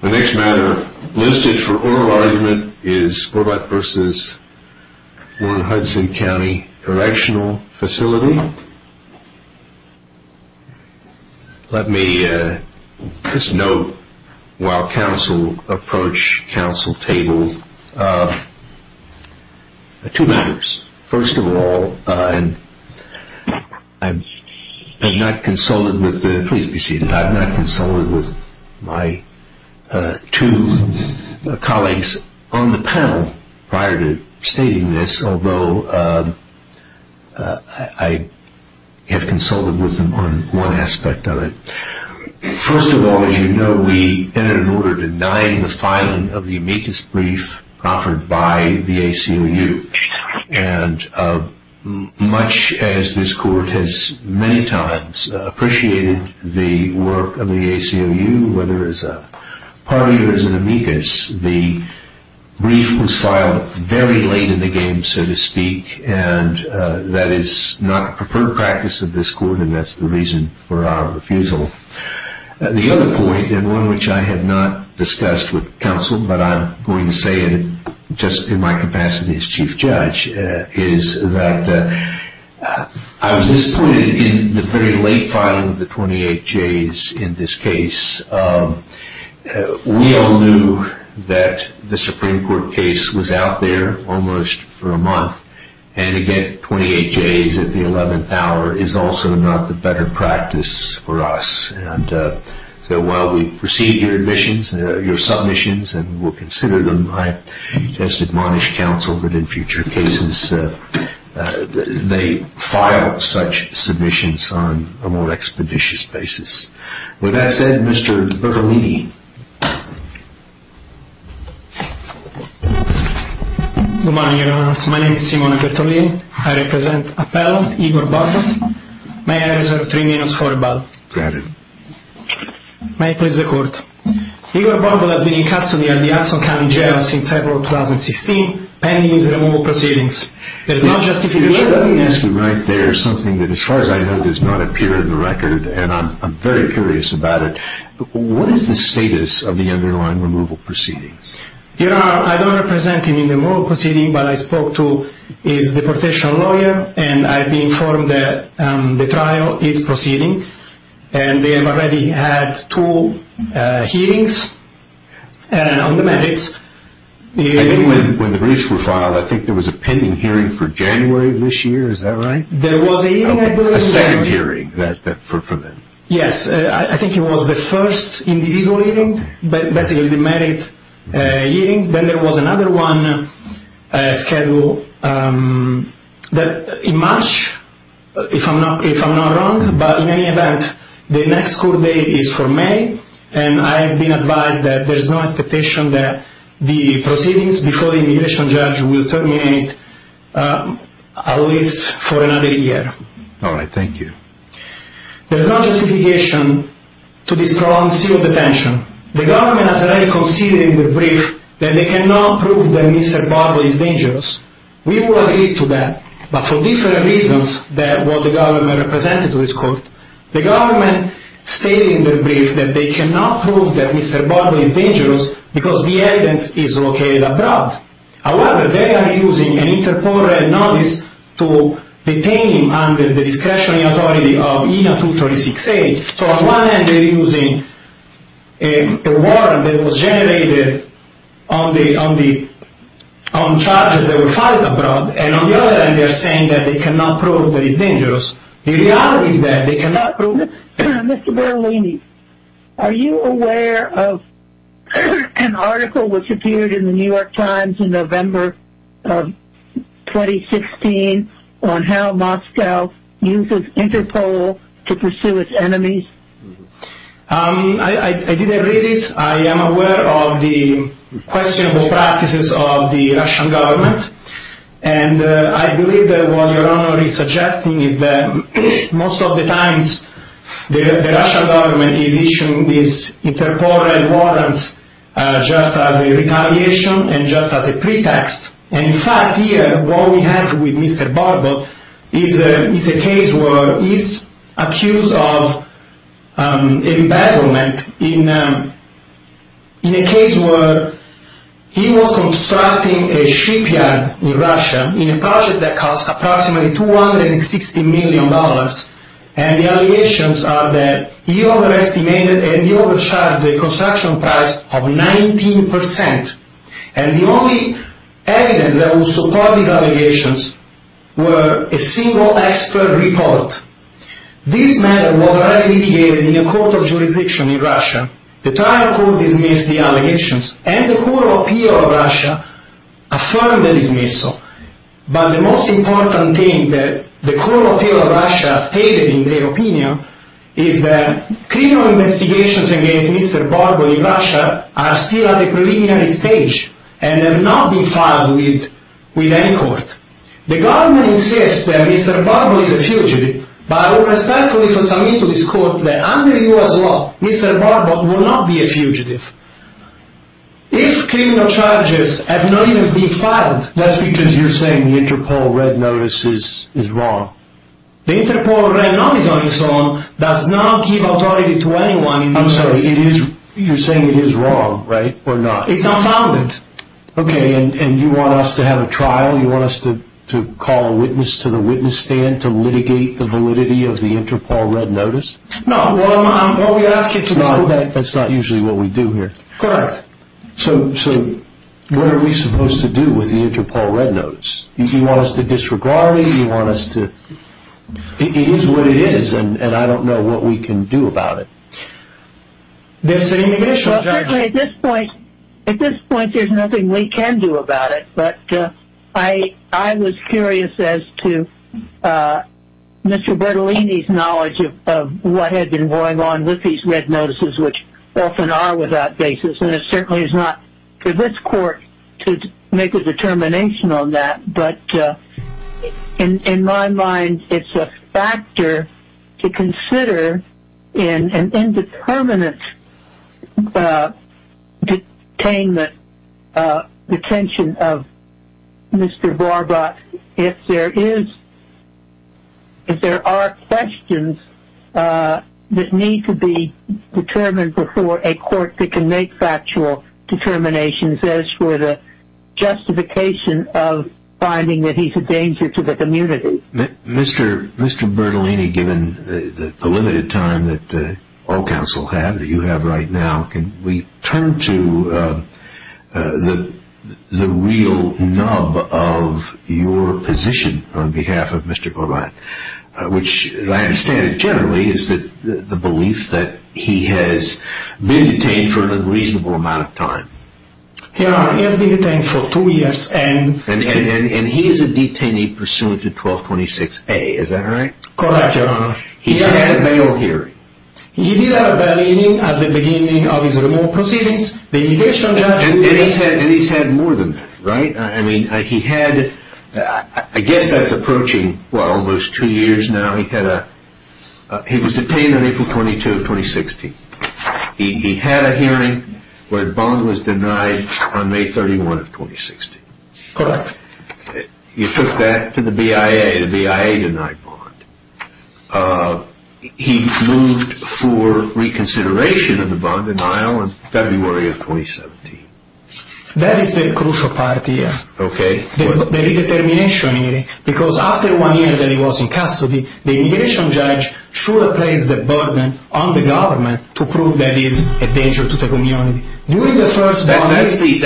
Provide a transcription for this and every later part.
The next matter listed for oral argument is Warbot v. Warden Hudson County Correctional Facility. Let me just note while council approach council table, two matters. First of all, I'm not consulted with the two colleagues on the panel prior to stating this, although I have consulted with them on one aspect of it. First of all, as you know, we entered an order denying the filing of the amicus brief offered by the ACLU, and much as this court has many times appreciated the work of the ACLU, whether as a party or as an amicus, the brief was filed very late in the game, so to speak, and that is not the preferred practice of this court, and that's the reason for our refusal. The other point, and one which I have not discussed with council, but I'm going to say it just in my capacity as chief judge, is that I was disappointed in the very late filing of the 28Js in this case. We all knew that the Supreme Court case was out there almost for a month, and again, 28Js at the 11th hour is also not the better practice for us, and so while we've received your submissions and will consider them, I just admonish council that in future cases they file such submissions on a more expeditious basis. With that said, Mr. Bertolini. Good morning, Your Honor. My name is Simone Bertolini. I represent Appell, Igor Borgo. May I reserve three minutes for rebuttal? Granted. May I please record? Igor Borgo has been in custody at the Hudson County Jail since April of 2016, pending his removal proceedings. There's no justification. You should have mentioned right there something that as far as I know does not appear in the record, and I'm very curious about it. What is the status of the underlying removal proceedings? Your Honor, I don't represent him in the removal proceedings, but I spoke to his deportation lawyer, and I've been informed that the trial is proceeding, and they have already had two hearings on the merits. I think when the briefs were filed, I think there was a pending hearing for January of this year. Is that right? There was a hearing, I believe. A second hearing for them. Yes. I think it was the first individual hearing, but basically the merit hearing. Then there was another one scheduled in March, if I'm not wrong. But in any event, the next court date is for May, and I have been advised that there's no expectation that the proceedings before the immigration judge will terminate at least for another year. All right. Thank you. There's no justification to this prolonged civil detention. The government has already conceded in the brief that they cannot prove that Mr. Borgo is dangerous. We will agree to that, but for different reasons than what the government represented to this court. The government stated in their brief that they cannot prove that Mr. Borgo is dangerous because the evidence is located abroad. However, they are using an interporter notice to detain him under the discretion and authority of ENA 2368. So on one end they're using a warrant that was generated on charges that were filed abroad, and on the other end they're saying that they cannot prove that he's dangerous. The reality is that they cannot prove it. Mr. Berolini, are you aware of an article which appeared in the New York Times in November of 2016 on how Moscow uses interpol to pursue its enemies? I didn't read it. I am aware of the questionable practices of the Russian government, and I believe that what Your Honor is suggesting is that most of the times the Russian government is issuing these interporter warrants just as a retaliation and just as a pretext. And in fact here what we have with Mr. Borgo is a case where he's accused of embezzlement in a case where he was constructing a shipyard in Russia in a project that cost approximately $260 million, and the allegations are that he overestimated and he overcharged the construction price of 19%. And the only evidence that would support these allegations were a single expert report. This matter was already litigated in a court of jurisdiction in Russia. The trial court dismissed the allegations, and the Court of Appeal of Russia affirmed the dismissal. But the most important thing that the Court of Appeal of Russia stated in their opinion is that criminal investigations against Mr. Borgo in Russia are still at the preliminary stage and have not been filed with any court. The government insists that Mr. Borgo is a fugitive, but I respectfully submit to this Court that under U.S. law Mr. Borgo would not be a fugitive. If criminal charges have not even been filed... That's because you're saying the interpol red notice is wrong. The interpol red notice on its own does not give authority to anyone in this case. I'm sorry, you're saying it is wrong, right, or not? It's unfounded. Okay, and you want us to have a trial? You want us to call a witness to the witness stand to litigate the validity of the interpol red notice? No. That's not usually what we do here. Correct. So what are we supposed to do with the interpol red notice? You want us to disregard it? You want us to... It is what it is, and I don't know what we can do about it. Well, certainly at this point there's nothing we can do about it, but I was curious as to Mr. Bertolini's knowledge of what had been going on with these red notices, which often are without basis, and it certainly is not for this court to make a determination on that, but in my mind it's a factor to consider in an indeterminate detainment, detention of Mr. Barbot if there are questions that need to be determined before a court that can make factual determinations as for the justification of finding that he's a danger to the community. Mr. Bertolini, given the limited time that all counsel had that you have right now, can we turn to the real nub of your position on behalf of Mr. Barbot, which as I understand it generally is the belief that he has been detained for an unreasonable amount of time. Yes, he has been detained for two years. And he is a detainee pursuant to 1226A, is that right? Correct, Your Honor. He's had a bail hearing. He did have a bail hearing at the beginning of his remand proceedings. The judicial judge... And he's had more than that, right? I mean, he had, I guess that's approaching, well, almost two years now. He was detained on April 22, 2016. He had a hearing where Bond was denied on May 31, 2016. Correct. You took that to the BIA. The BIA denied Bond. He moved for reconsideration of the bond denial in February of 2017. That is the crucial part here. Okay. The redetermination hearing, because after one year that he was in custody, the immigration judge should have placed the burden on the government to prove that he is a danger to the community. During the first bond hearing...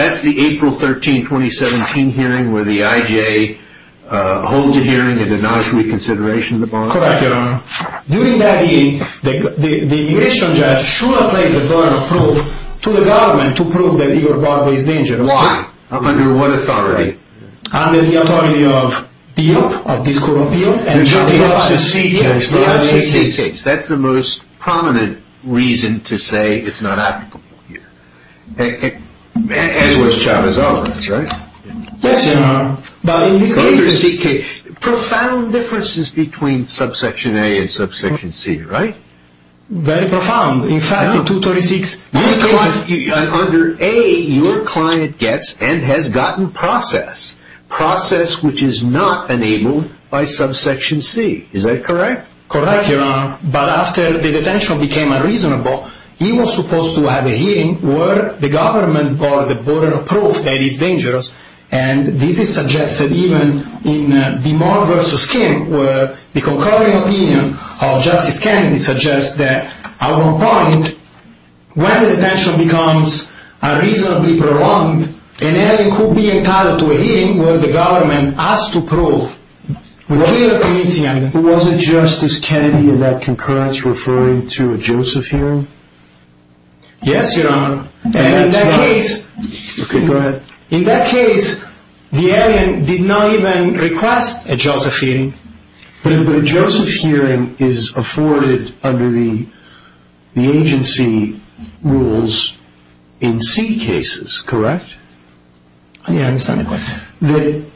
Correct, Your Honor. During that hearing, the immigration judge should have placed the burden of proof to the government to prove that Igor Barbo is a danger. Why? Under what authority? Under the authority of DEOP, of this Court of Appeal. The Chavez Office. Yes, the IOCC case. That's the most prominent reason to say it's not applicable here. And it was Chavez's office, right? Yes, Your Honor. But in this case, profound differences between subsection A and subsection C, right? Very profound. In fact, in 236, under A, your client gets and has gotten process, process which is not enabled by subsection C. Is that correct? Correct, Your Honor. But after the detention became unreasonable, he was supposed to have a hearing where the government brought the burden of proof that he's dangerous. And this is suggested even in the Moore v. Kim, where the concurring opinion of Justice Kennedy suggests that, at one point, when the detention becomes unreasonably prolonged, an alien could be entitled to a hearing where the government has to prove. Wasn't Justice Kennedy in that concurrence referring to a Joseph hearing? Yes, Your Honor. And in that case... Okay, go ahead. In that case, the alien did not even request a Joseph hearing. But a Joseph hearing is afforded under the agency rules in C cases, correct? Yes, I understand the question.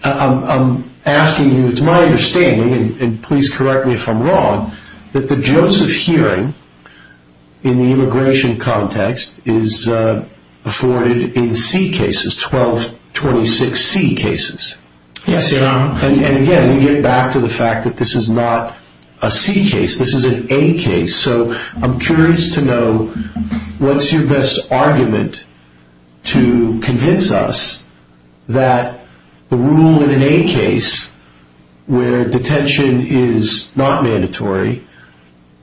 I'm asking you, it's my understanding, and please correct me if I'm wrong, that the Joseph hearing in the immigration context is afforded in C cases, 1226 C cases. Yes, Your Honor. And again, we get back to the fact that this is not a C case. This is an A case. So I'm curious to know what's your best argument to convince us that the rule in an A case where detention is not mandatory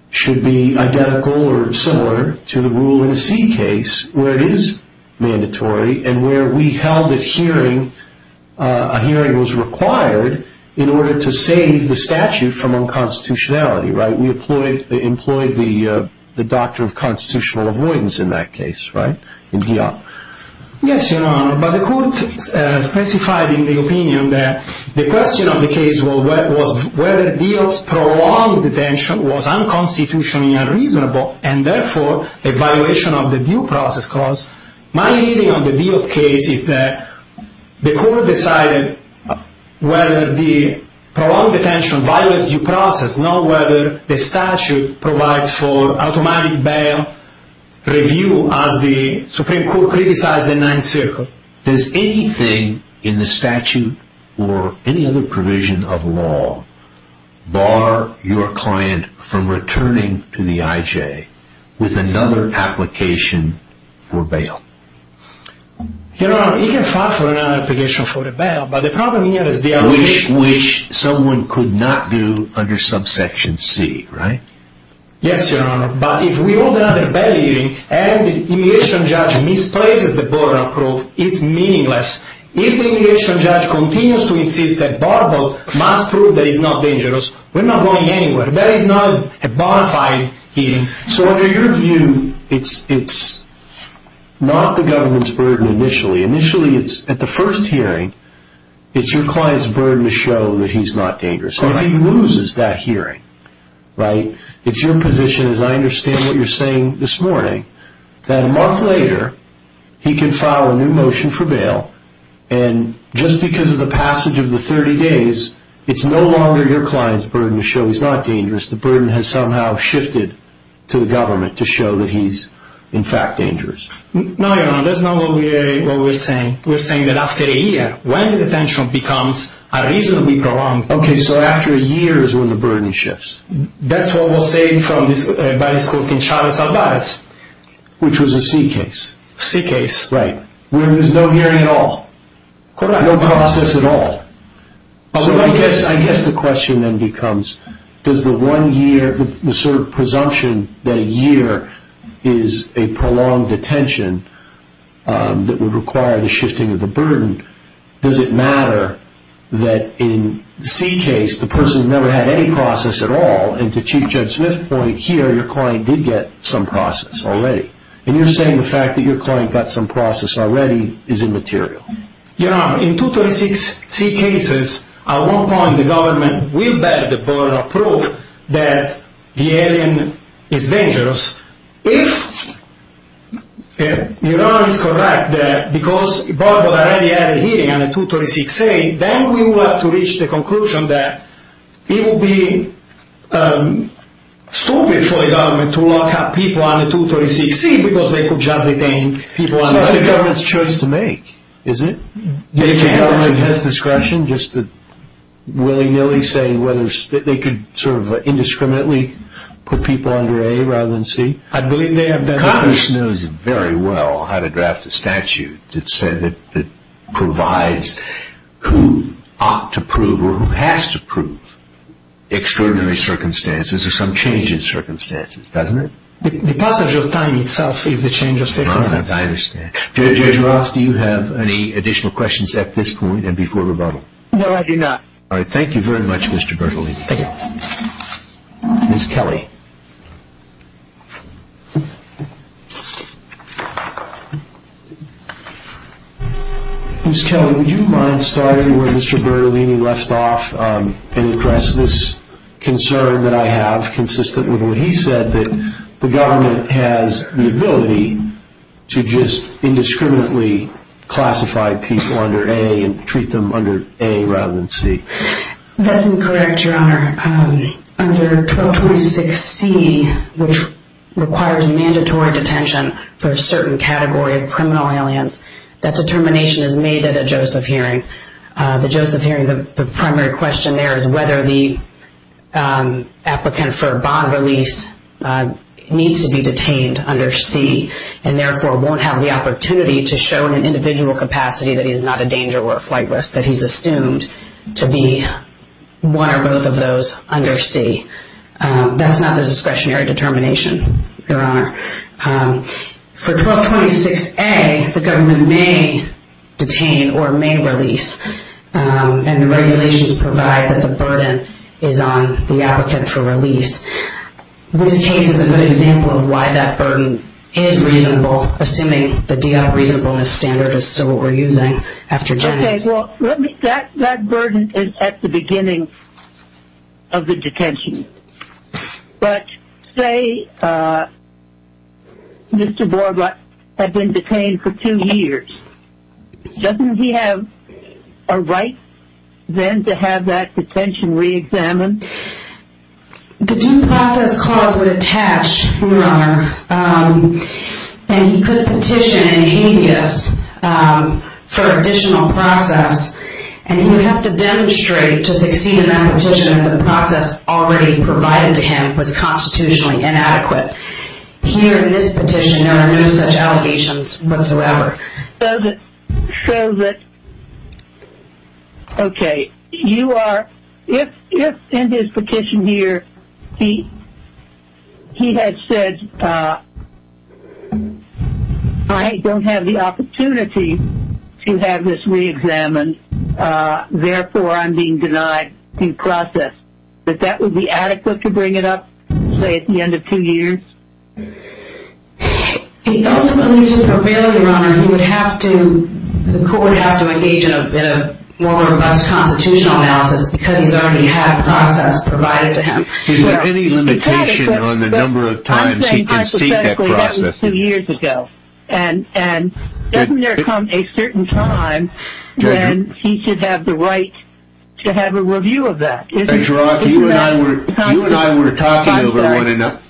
should be identical or similar to the rule in a C case where it is mandatory and where we held that a hearing was required in order to save the statute from unconstitutionality, right? That would be the doctrine of constitutional avoidance in that case, right? In Diop. Yes, Your Honor. But the court specified in the opinion that the question of the case was whether Diop's prolonged detention was unconstitutionally unreasonable and therefore a violation of the due process clause. My reading of the Diop case is that the court decided whether the prolonged detention violates due process, not whether the statute provides for automatic bail review as the Supreme Court criticized in Ninth Circle. Does anything in the statute or any other provision of law bar your client from returning to the IJ with another application for bail? Your Honor, you can file for another application for a bail, but the problem here is the application... Which someone could not do under subsection C, right? Yes, Your Honor. But if we hold another bail hearing and the immigration judge misplaces the border approve, it's meaningless. If the immigration judge continues to insist that Borbal must prove that he's not dangerous, we're not going anywhere. That is not a bona fide hearing. So under your view, it's not the government's burden initially. Initially, at the first hearing, it's your client's burden to show that he's not dangerous. If he loses that hearing, it's your position, as I understand what you're saying this morning, that a month later he can file a new motion for bail, and just because of the passage of the 30 days, it's no longer your client's burden to show he's not dangerous. The burden has somehow shifted to the government to show that he's in fact dangerous. No, Your Honor, that's not what we're saying. We're saying that after a year, when the detention becomes a reasonably prolonged... Okay, so after a year is when the burden shifts. That's what was said by this court in Chavez-Alvarez. Which was a C case. C case. Right. Where there's no hearing at all. Correct. No process at all. I guess the question then becomes, does the one year, the sort of presumption that a year is a prolonged detention that would require the shifting of the burden, does it matter that in the C case, the person never had any process at all, and to Chief Judge Smith's point here, your client did get some process already. And you're saying the fact that your client got some process already is immaterial. Your Honor, in 236-C cases, at one point the government will bear the burden of proof that the alien is dangerous. If Your Honor is correct that because the board already had a hearing on 236-A, then we will have to reach the conclusion that it would be stupid for the government to lock up people on 236-C because they could just detain people on 236-A. It's the government's choice to make, is it? If the government has discretion just to willy-nilly say whether they could sort of indiscriminately put people under A rather than C, I believe they have that discretion. Congress knows very well how to draft a statute that provides who ought to prove or who has to prove extraordinary circumstances or some change in circumstances, doesn't it? The passage of time itself is the change of circumstances. I understand. Judge Roth, do you have any additional questions at this point and before rebuttal? No, I do not. All right. Thank you very much, Mr. Bertolini. Thank you. Ms. Kelly. Ms. Kelly, would you mind starting where Mr. Bertolini left off and address this concern that I have consistent with what he said, that the government has the ability to just indiscriminately classify people under A and treat them under A rather than C? That's incorrect, Your Honor. Under 1226-C, which requires mandatory detention for a certain category of criminal aliens, that determination is made at a Joseph hearing. The Joseph hearing, the primary question there is whether the applicant for bond release needs to be detained under C and therefore won't have the opportunity to show in an individual capacity that he's not a danger or a flight risk, that he's assumed to be one or both of those under C. That's not the discretionary determination, Your Honor. For 1226-A, the government may detain or may release, and the regulations provide that the burden is on the applicant for release. This case is a good example of why that burden is reasonable, assuming the DL reasonableness standard is still what we're using after Jennings. Okay. Well, that burden is at the beginning of the detention. But say Mr. Borlaug had been detained for two years. Doesn't he have a right then to have that detention reexamined? The due process clause would attach, Your Honor, and he could petition in habeas for additional process, and he would have to demonstrate to succeed in that petition if the process already provided to him was constitutionally inadequate. Here in this petition, there are no such allegations whatsoever. Okay. If in this petition here he had said, I don't have the opportunity to have this reexamined, therefore I'm being denied due process, that that would be adequate to bring it up, say, at the end of two years? Ultimately, to prevail, Your Honor, the court would have to engage in a more robust constitutional analysis because he's already had process provided to him. Is there any limitation on the number of times he can seek that process? I think that was two years ago. And doesn't there come a certain time when he should have the right to have a review of that? Judge Roth, you and I were talking over one another.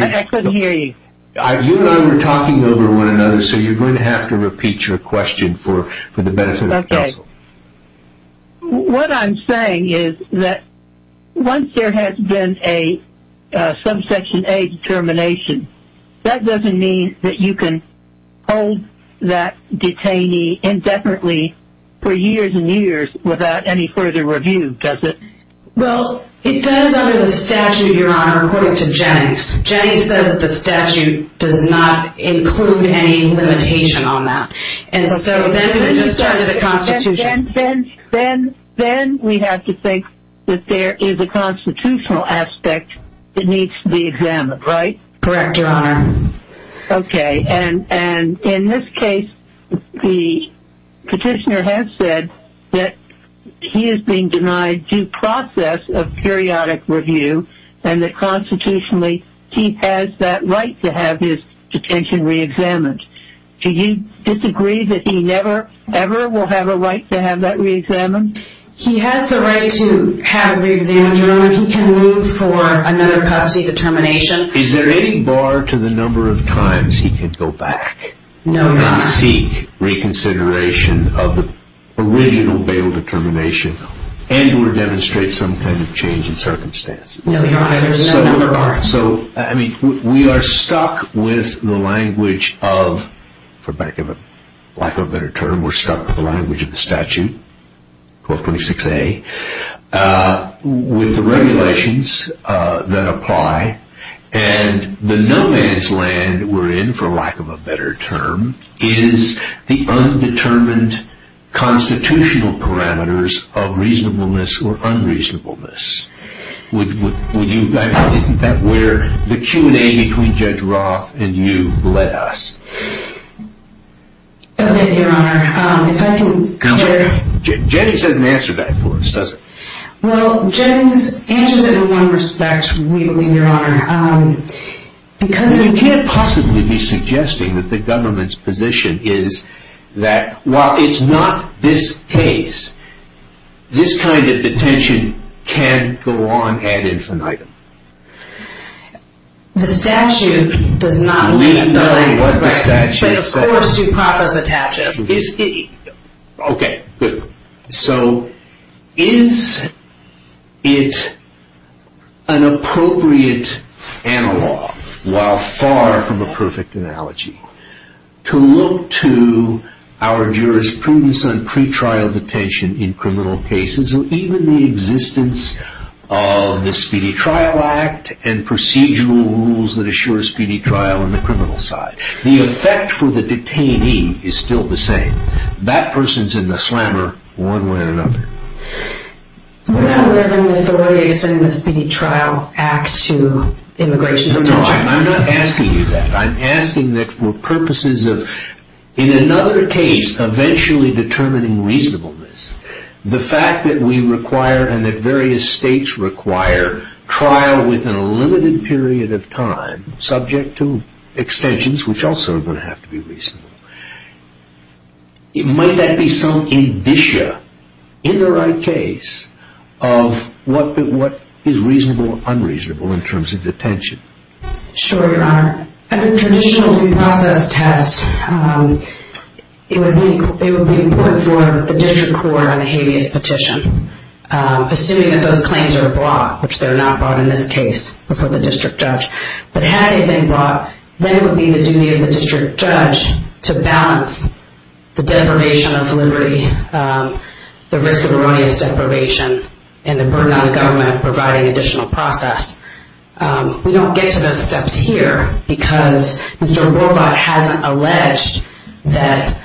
I couldn't hear you. You and I were talking over one another, so you're going to have to repeat your question for the benefit of counsel. Okay. What I'm saying is that once there has been a subsection A determination, that doesn't mean that you can hold that detainee indifferently for years and years without any further review, does it? Well, it does under the statute, Your Honor, according to Jennings. Jennings says that the statute does not include any limitation on that. And so then we have to think that there is a constitutional aspect that needs to be examined, right? Correct, Your Honor. Okay. And in this case, the petitioner has said that he is being denied due process of periodic review and that constitutionally he has that right to have his detention reexamined. Do you disagree that he never, ever will have a right to have that reexamined? He has the right to have it reexamined, Your Honor. He can move for another custody determination. Is there any bar to the number of times he can go back and seek reconsideration of the original bail determination and or demonstrate some kind of change in circumstances? No, Your Honor. So, I mean, we are stuck with the language of, for lack of a better term, we're stuck with the language of the statute, 1226A, with the regulations that apply, and the no man's land we're in, for lack of a better term, is the undetermined constitutional parameters of reasonableness or unreasonableness. Isn't that where the Q&A between Judge Roth and you led us? Okay, Your Honor. Jennings doesn't answer that for us, does he? Well, Jennings answers it in one respect, we believe, Your Honor. You can't possibly be suggesting that the government's position is that, while it's not this case, this kind of detention can go on ad infinitum. The statute does not lead us. We know what the statute says. And, of course, due process attaches. Okay, good. So, is it an appropriate analog, while far from a perfect analogy, to look to our jurisprudence on pretrial detention in criminal cases or even the existence of the Speedy Trial Act and procedural rules that assure speedy trial on the criminal side? The effect for the detainee is still the same. That person's in the slammer one way or another. What other authority extends the Speedy Trial Act to immigration detention? I'm not asking you that. I'm asking that for purposes of, in another case, eventually determining reasonableness, the fact that we require and that various states require trial within a limited period of time, subject to extensions, which also are going to have to be reasonable. Might that be some indicia, in the right case, of what is reasonable or unreasonable in terms of detention? Sure, Your Honor. Under traditional due process tests, it would be important for the district court on a habeas petition, assuming that those claims are brought, which they're not brought in this case before the district judge. But having them brought, then it would be the duty of the district judge to balance the deprivation of liberty, the risk of erroneous deprivation, and the burden on the government of providing additional process. We don't get to those steps here because Mr. Warbot hasn't alleged that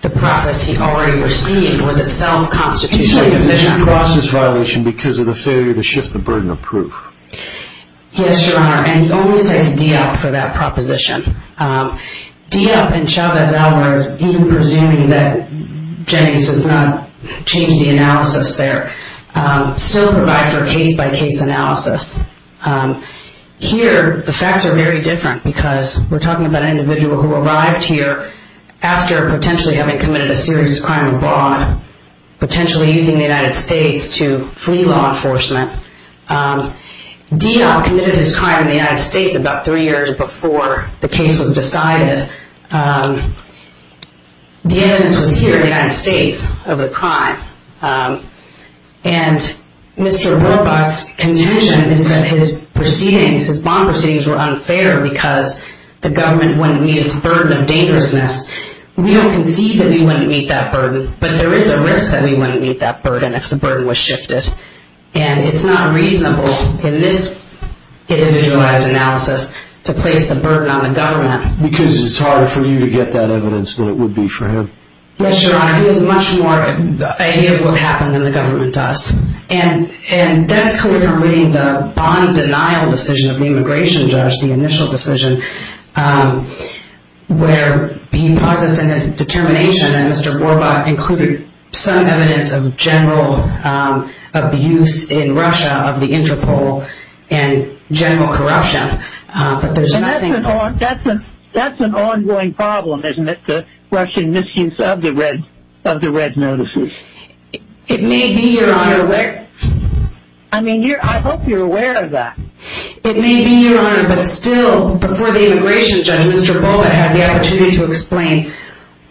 the process he already received was itself constitutional division. He didn't cross this violation because of the failure to shift the burden of proof. Yes, Your Honor, and he only says DEOP for that proposition. DEOP and Chavez-Alvarez, even presuming that Jennings does not change the analysis there, still provide for a case-by-case analysis. Here, the facts are very different because we're talking about an individual who arrived here after potentially having committed a serious crime abroad, potentially using the United States to flee law enforcement. DEOP committed his crime in the United States about three years before the case was decided. The evidence was here in the United States of the crime. And Mr. Warbot's contention is that his proceedings, his bond proceedings, were unfair because the government wouldn't meet its burden of dangerousness. We don't concede that we wouldn't meet that burden, but there is a risk that we wouldn't meet that burden if the burden was shifted. And it's not reasonable in this individualized analysis to place the burden on the government. Because it's harder for you to get that evidence than it would be for him. Yes, Your Honor, he has a much more idea of what happened than the government does. And that's clear from reading the bond denial decision of the immigration judge, the initial decision, where he posits in the determination that Mr. Warbot included some evidence of general abuse in Russia of the Interpol and general corruption. But there's nothing— And that's an ongoing problem, isn't it, the Russian misuse of the Red Notices? It may be, Your Honor. I mean, I hope you're aware of that. It may be, Your Honor, but still, before the immigration judge, Mr. Bullitt had the opportunity to explain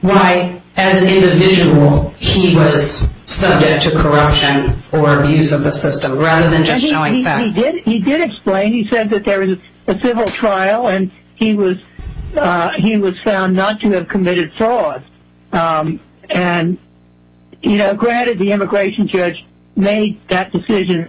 why, as an individual, he was subject to corruption or abuse of the system, rather than just knowing facts. He did explain. He said that there was a civil trial, and he was found not to have committed fraud. And, you know, granted, the immigration judge made that decision,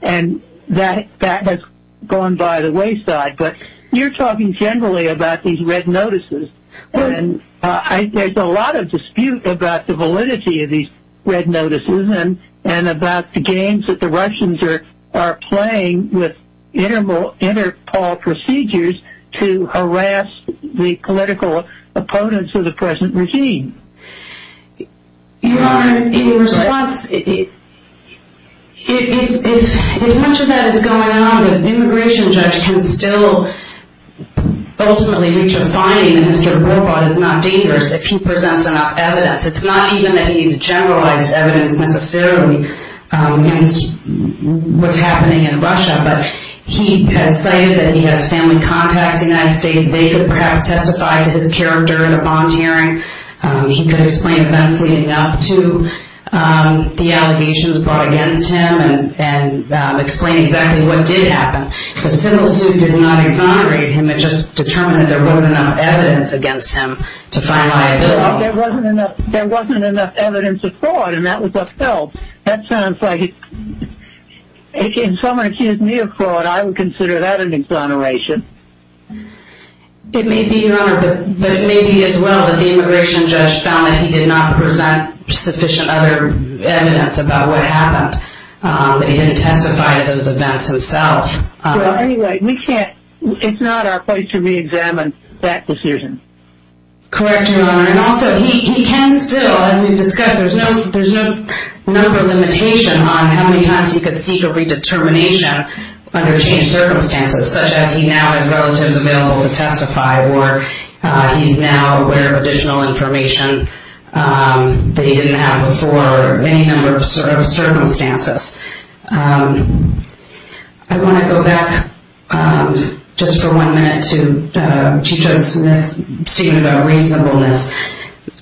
and that has gone by the wayside. But you're talking generally about these Red Notices, and there's a lot of dispute about the validity of these Red Notices and about the games that the Russians are playing with Interpol procedures to harass the political opponents of the present regime. Your Honor, in response, if much of that is going on, the immigration judge can still ultimately reach a finding that Mr. Robot is not dangerous if he presents enough evidence. It's not even that he's generalized evidence, necessarily, against what's happening in Russia, but he has cited that he has family contacts in the United States. They could perhaps testify to his character in the bond hearing. He could explain events leading up to the allegations brought against him and explain exactly what did happen. The civil suit did not exonerate him. It just determined that there wasn't enough evidence against him to find liability. There wasn't enough evidence of fraud, and that was upheld. That sounds like, if someone accused me of fraud, I would consider that an exoneration. It may be, Your Honor, but it may be as well that the immigration judge found that he did not present sufficient other evidence about what happened. He didn't testify to those events himself. Well, anyway, we can't, it's not our place to reexamine that decision. Correct, Your Honor, and also he can still, as we've discussed, there's no number limitation on how many times he could seek a redetermination under changed circumstances, such as he now has relatives available to testify or he's now aware of additional information that he didn't have before or any number of circumstances. I want to go back just for one minute to Chief Judge Smith's statement about reasonableness.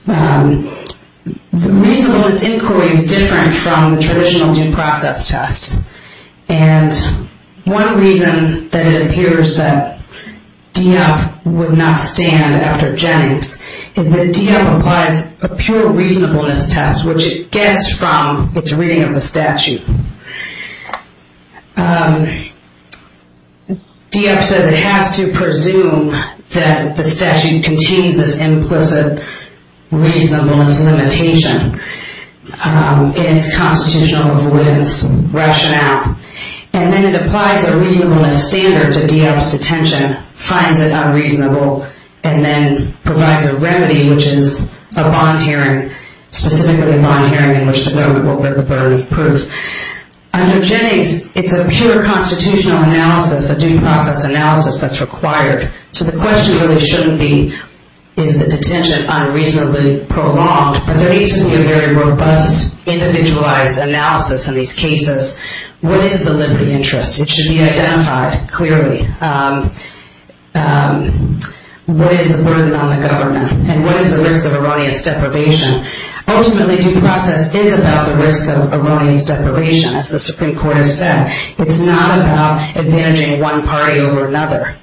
The reasonableness inquiry is different from the traditional due process test, and one reason that it appears that Dieppe would not stand after Jennings is that Dieppe applied a pure reasonableness test, which it gets from its reading of the statute. Dieppe says it has to presume that the statute contains this implicit reasonableness limitation in its constitutional avoidance rationale, and then it applies a reasonableness standard to Dieppe's detention, finds it unreasonable, and then provides a remedy, which is a bond hearing, which is where we will get the burden of proof. Under Jennings, it's a pure constitutional analysis, a due process analysis that's required, so the question really shouldn't be is the detention unreasonably prolonged, but there needs to be a very robust, individualized analysis in these cases. What is the liberty interest? It should be identified clearly. What is the burden on the government, and what is the risk of erroneous deprivation? Ultimately, due process is about the risk of erroneous deprivation, as the Supreme Court has said. It's not about advantaging one party over another,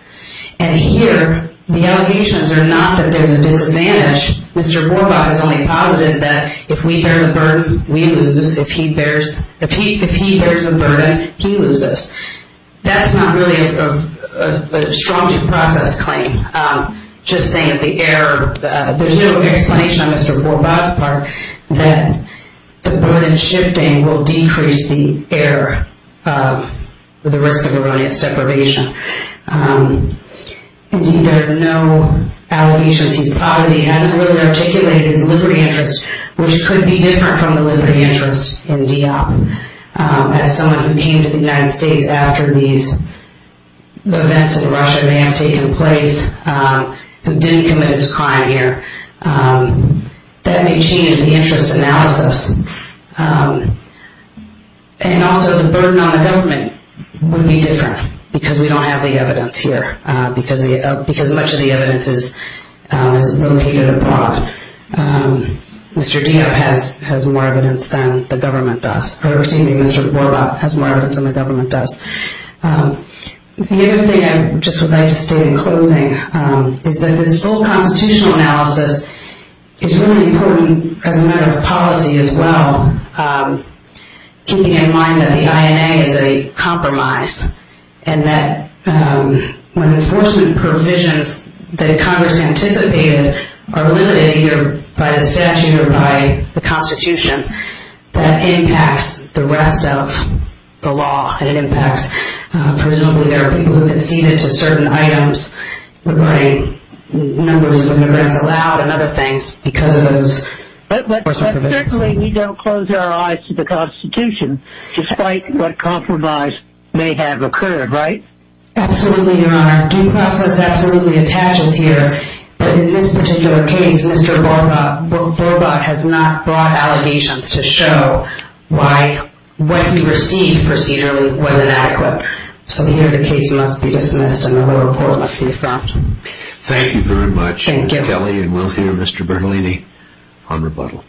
and here the allegations are not that there's a disadvantage. Mr. Borbaugh has only posited that if we bear the burden, we lose. If he bears the burden, he loses. That's not really a strong due process claim. Just saying that there's no explanation on Mr. Borbaugh's part that the burden shifting will decrease the risk of erroneous deprivation. Indeed, there are no allegations. He probably hasn't really articulated his liberty interest, which could be different from the liberty interest in Dieppe. As someone who came to the United States after these events in Russia may have taken place, who didn't commit his crime here, that may change the interest analysis. Also, the burden on the government would be different, because we don't have the evidence here, because much of the evidence is located abroad. Mr. Borbaugh has more evidence than the government does. The other thing I would like to state in closing is that this full constitutional analysis is really important as a matter of policy as well, keeping in mind that the INA is a compromise, and that when enforcement provisions that Congress anticipated are limited either by the statute or by the Constitution, that impacts the rest of the law. Presumably there are people who conceded to certain items regarding numbers of immigrants allowed and other things because of those enforcement provisions. But certainly we don't close our eyes to the Constitution, despite what compromise may have occurred, right? Absolutely, Your Honor. Our due process absolutely attaches here, that in this particular case, Mr. Borbaugh has not brought allegations to show why what he received procedurally was inadequate. So here the case must be dismissed, and the whole report must be affirmed. Thank you very much, Ms. Kelly, and we'll hear Mr. Bernalini on rebuttal.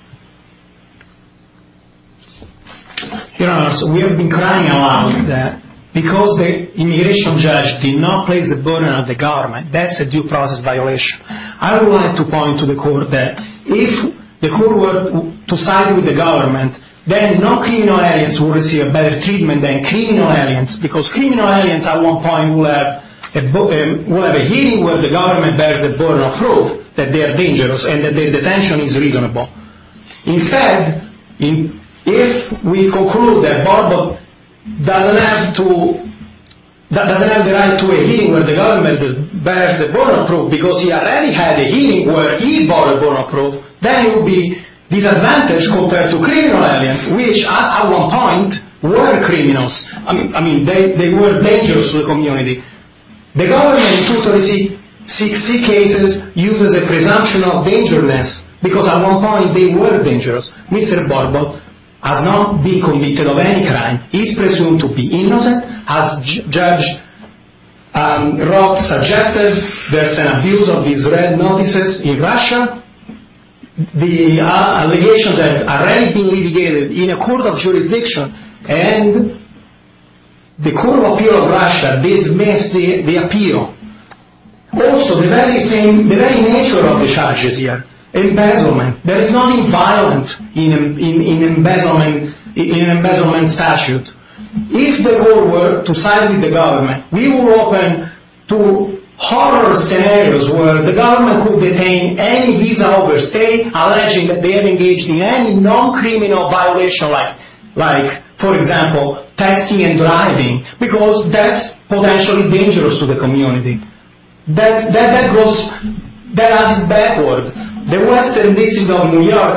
Your Honor, so we have been crying a lot with that, because the immigration judge did not place a burden on the government. That's a due process violation. I would like to point to the court that if the court were to side with the government, then non-criminal aliens would receive a better treatment than criminal aliens, because criminal aliens at one point would have a hearing where the government bears a burden of proof that they are dangerous and that their detention is reasonable. Instead, if we conclude that Borbaugh doesn't have the right to a hearing where the government bears a burden of proof, because he already had a hearing where he bore a burden of proof, then it would be disadvantaged compared to criminal aliens, which at one point were criminals. I mean, they were dangerous to the community. The government is supposed to receive six cases using the presumption of dangerousness, because at one point they were dangerous. Mr. Borbaugh has not been convicted of any crime. He's presumed to be innocent. As Judge Roth suggested, there's an abuse of these red notices in Russia. The allegations have already been litigated in a court of jurisdiction, and the Court of Appeal of Russia dismissed the appeal. Also, the very nature of the charges here, embezzlement. There is nothing violent in an embezzlement statute. If the Court were to side with the government, we would open to horror scenarios where the government could detain any visa-holders alleging that they have engaged in any non-criminal violation, like, for example, texting and driving, because that's potentially dangerous to the community. That goes backwards. The Western District of New York,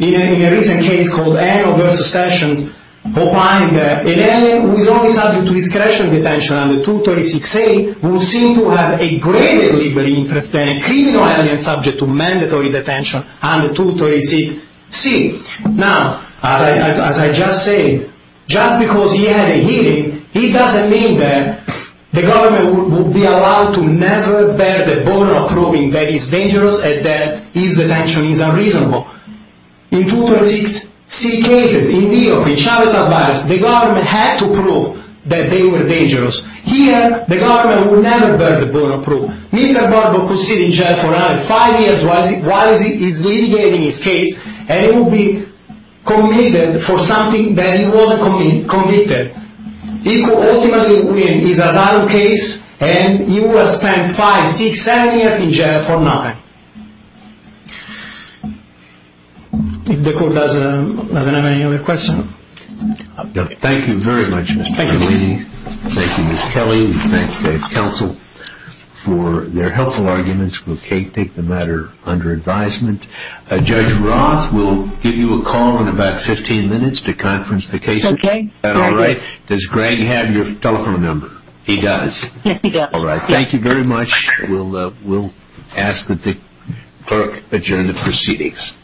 in a recent case called Anno v. Sessions, opined that an alien who is only subject to discretionary detention under 236A would seem to have a greater legal interest than a criminal alien subject to mandatory detention under 236C. Now, as I just said, just because he had a hearing, it doesn't mean that the government would be allowed to never bear the burden of proving that he's dangerous and that his detention is unreasonable. In 236C cases in New York, in Chavez Alvarez, the government had to prove that they were dangerous. Here, the government would never bear the burden of proof. Mr. Barbo could sit in jail for another five years while he is litigating his case, and he would be convicted for something that he wasn't convicted. He could ultimately win his asylum case, and he would have spent five, six, seven years in jail for nothing. If the court doesn't have any other questions. Thank you very much, Mr. Berlini. Thank you, Ms. Kelly. We thank the counsel for their helpful arguments. We'll take the matter under advisement. Judge Roth will give you a call in about 15 minutes to conference the case. Okay. Does Greg have your telephone number? He does. All right. Thank you very much. We'll ask that the clerk adjourn the proceedings.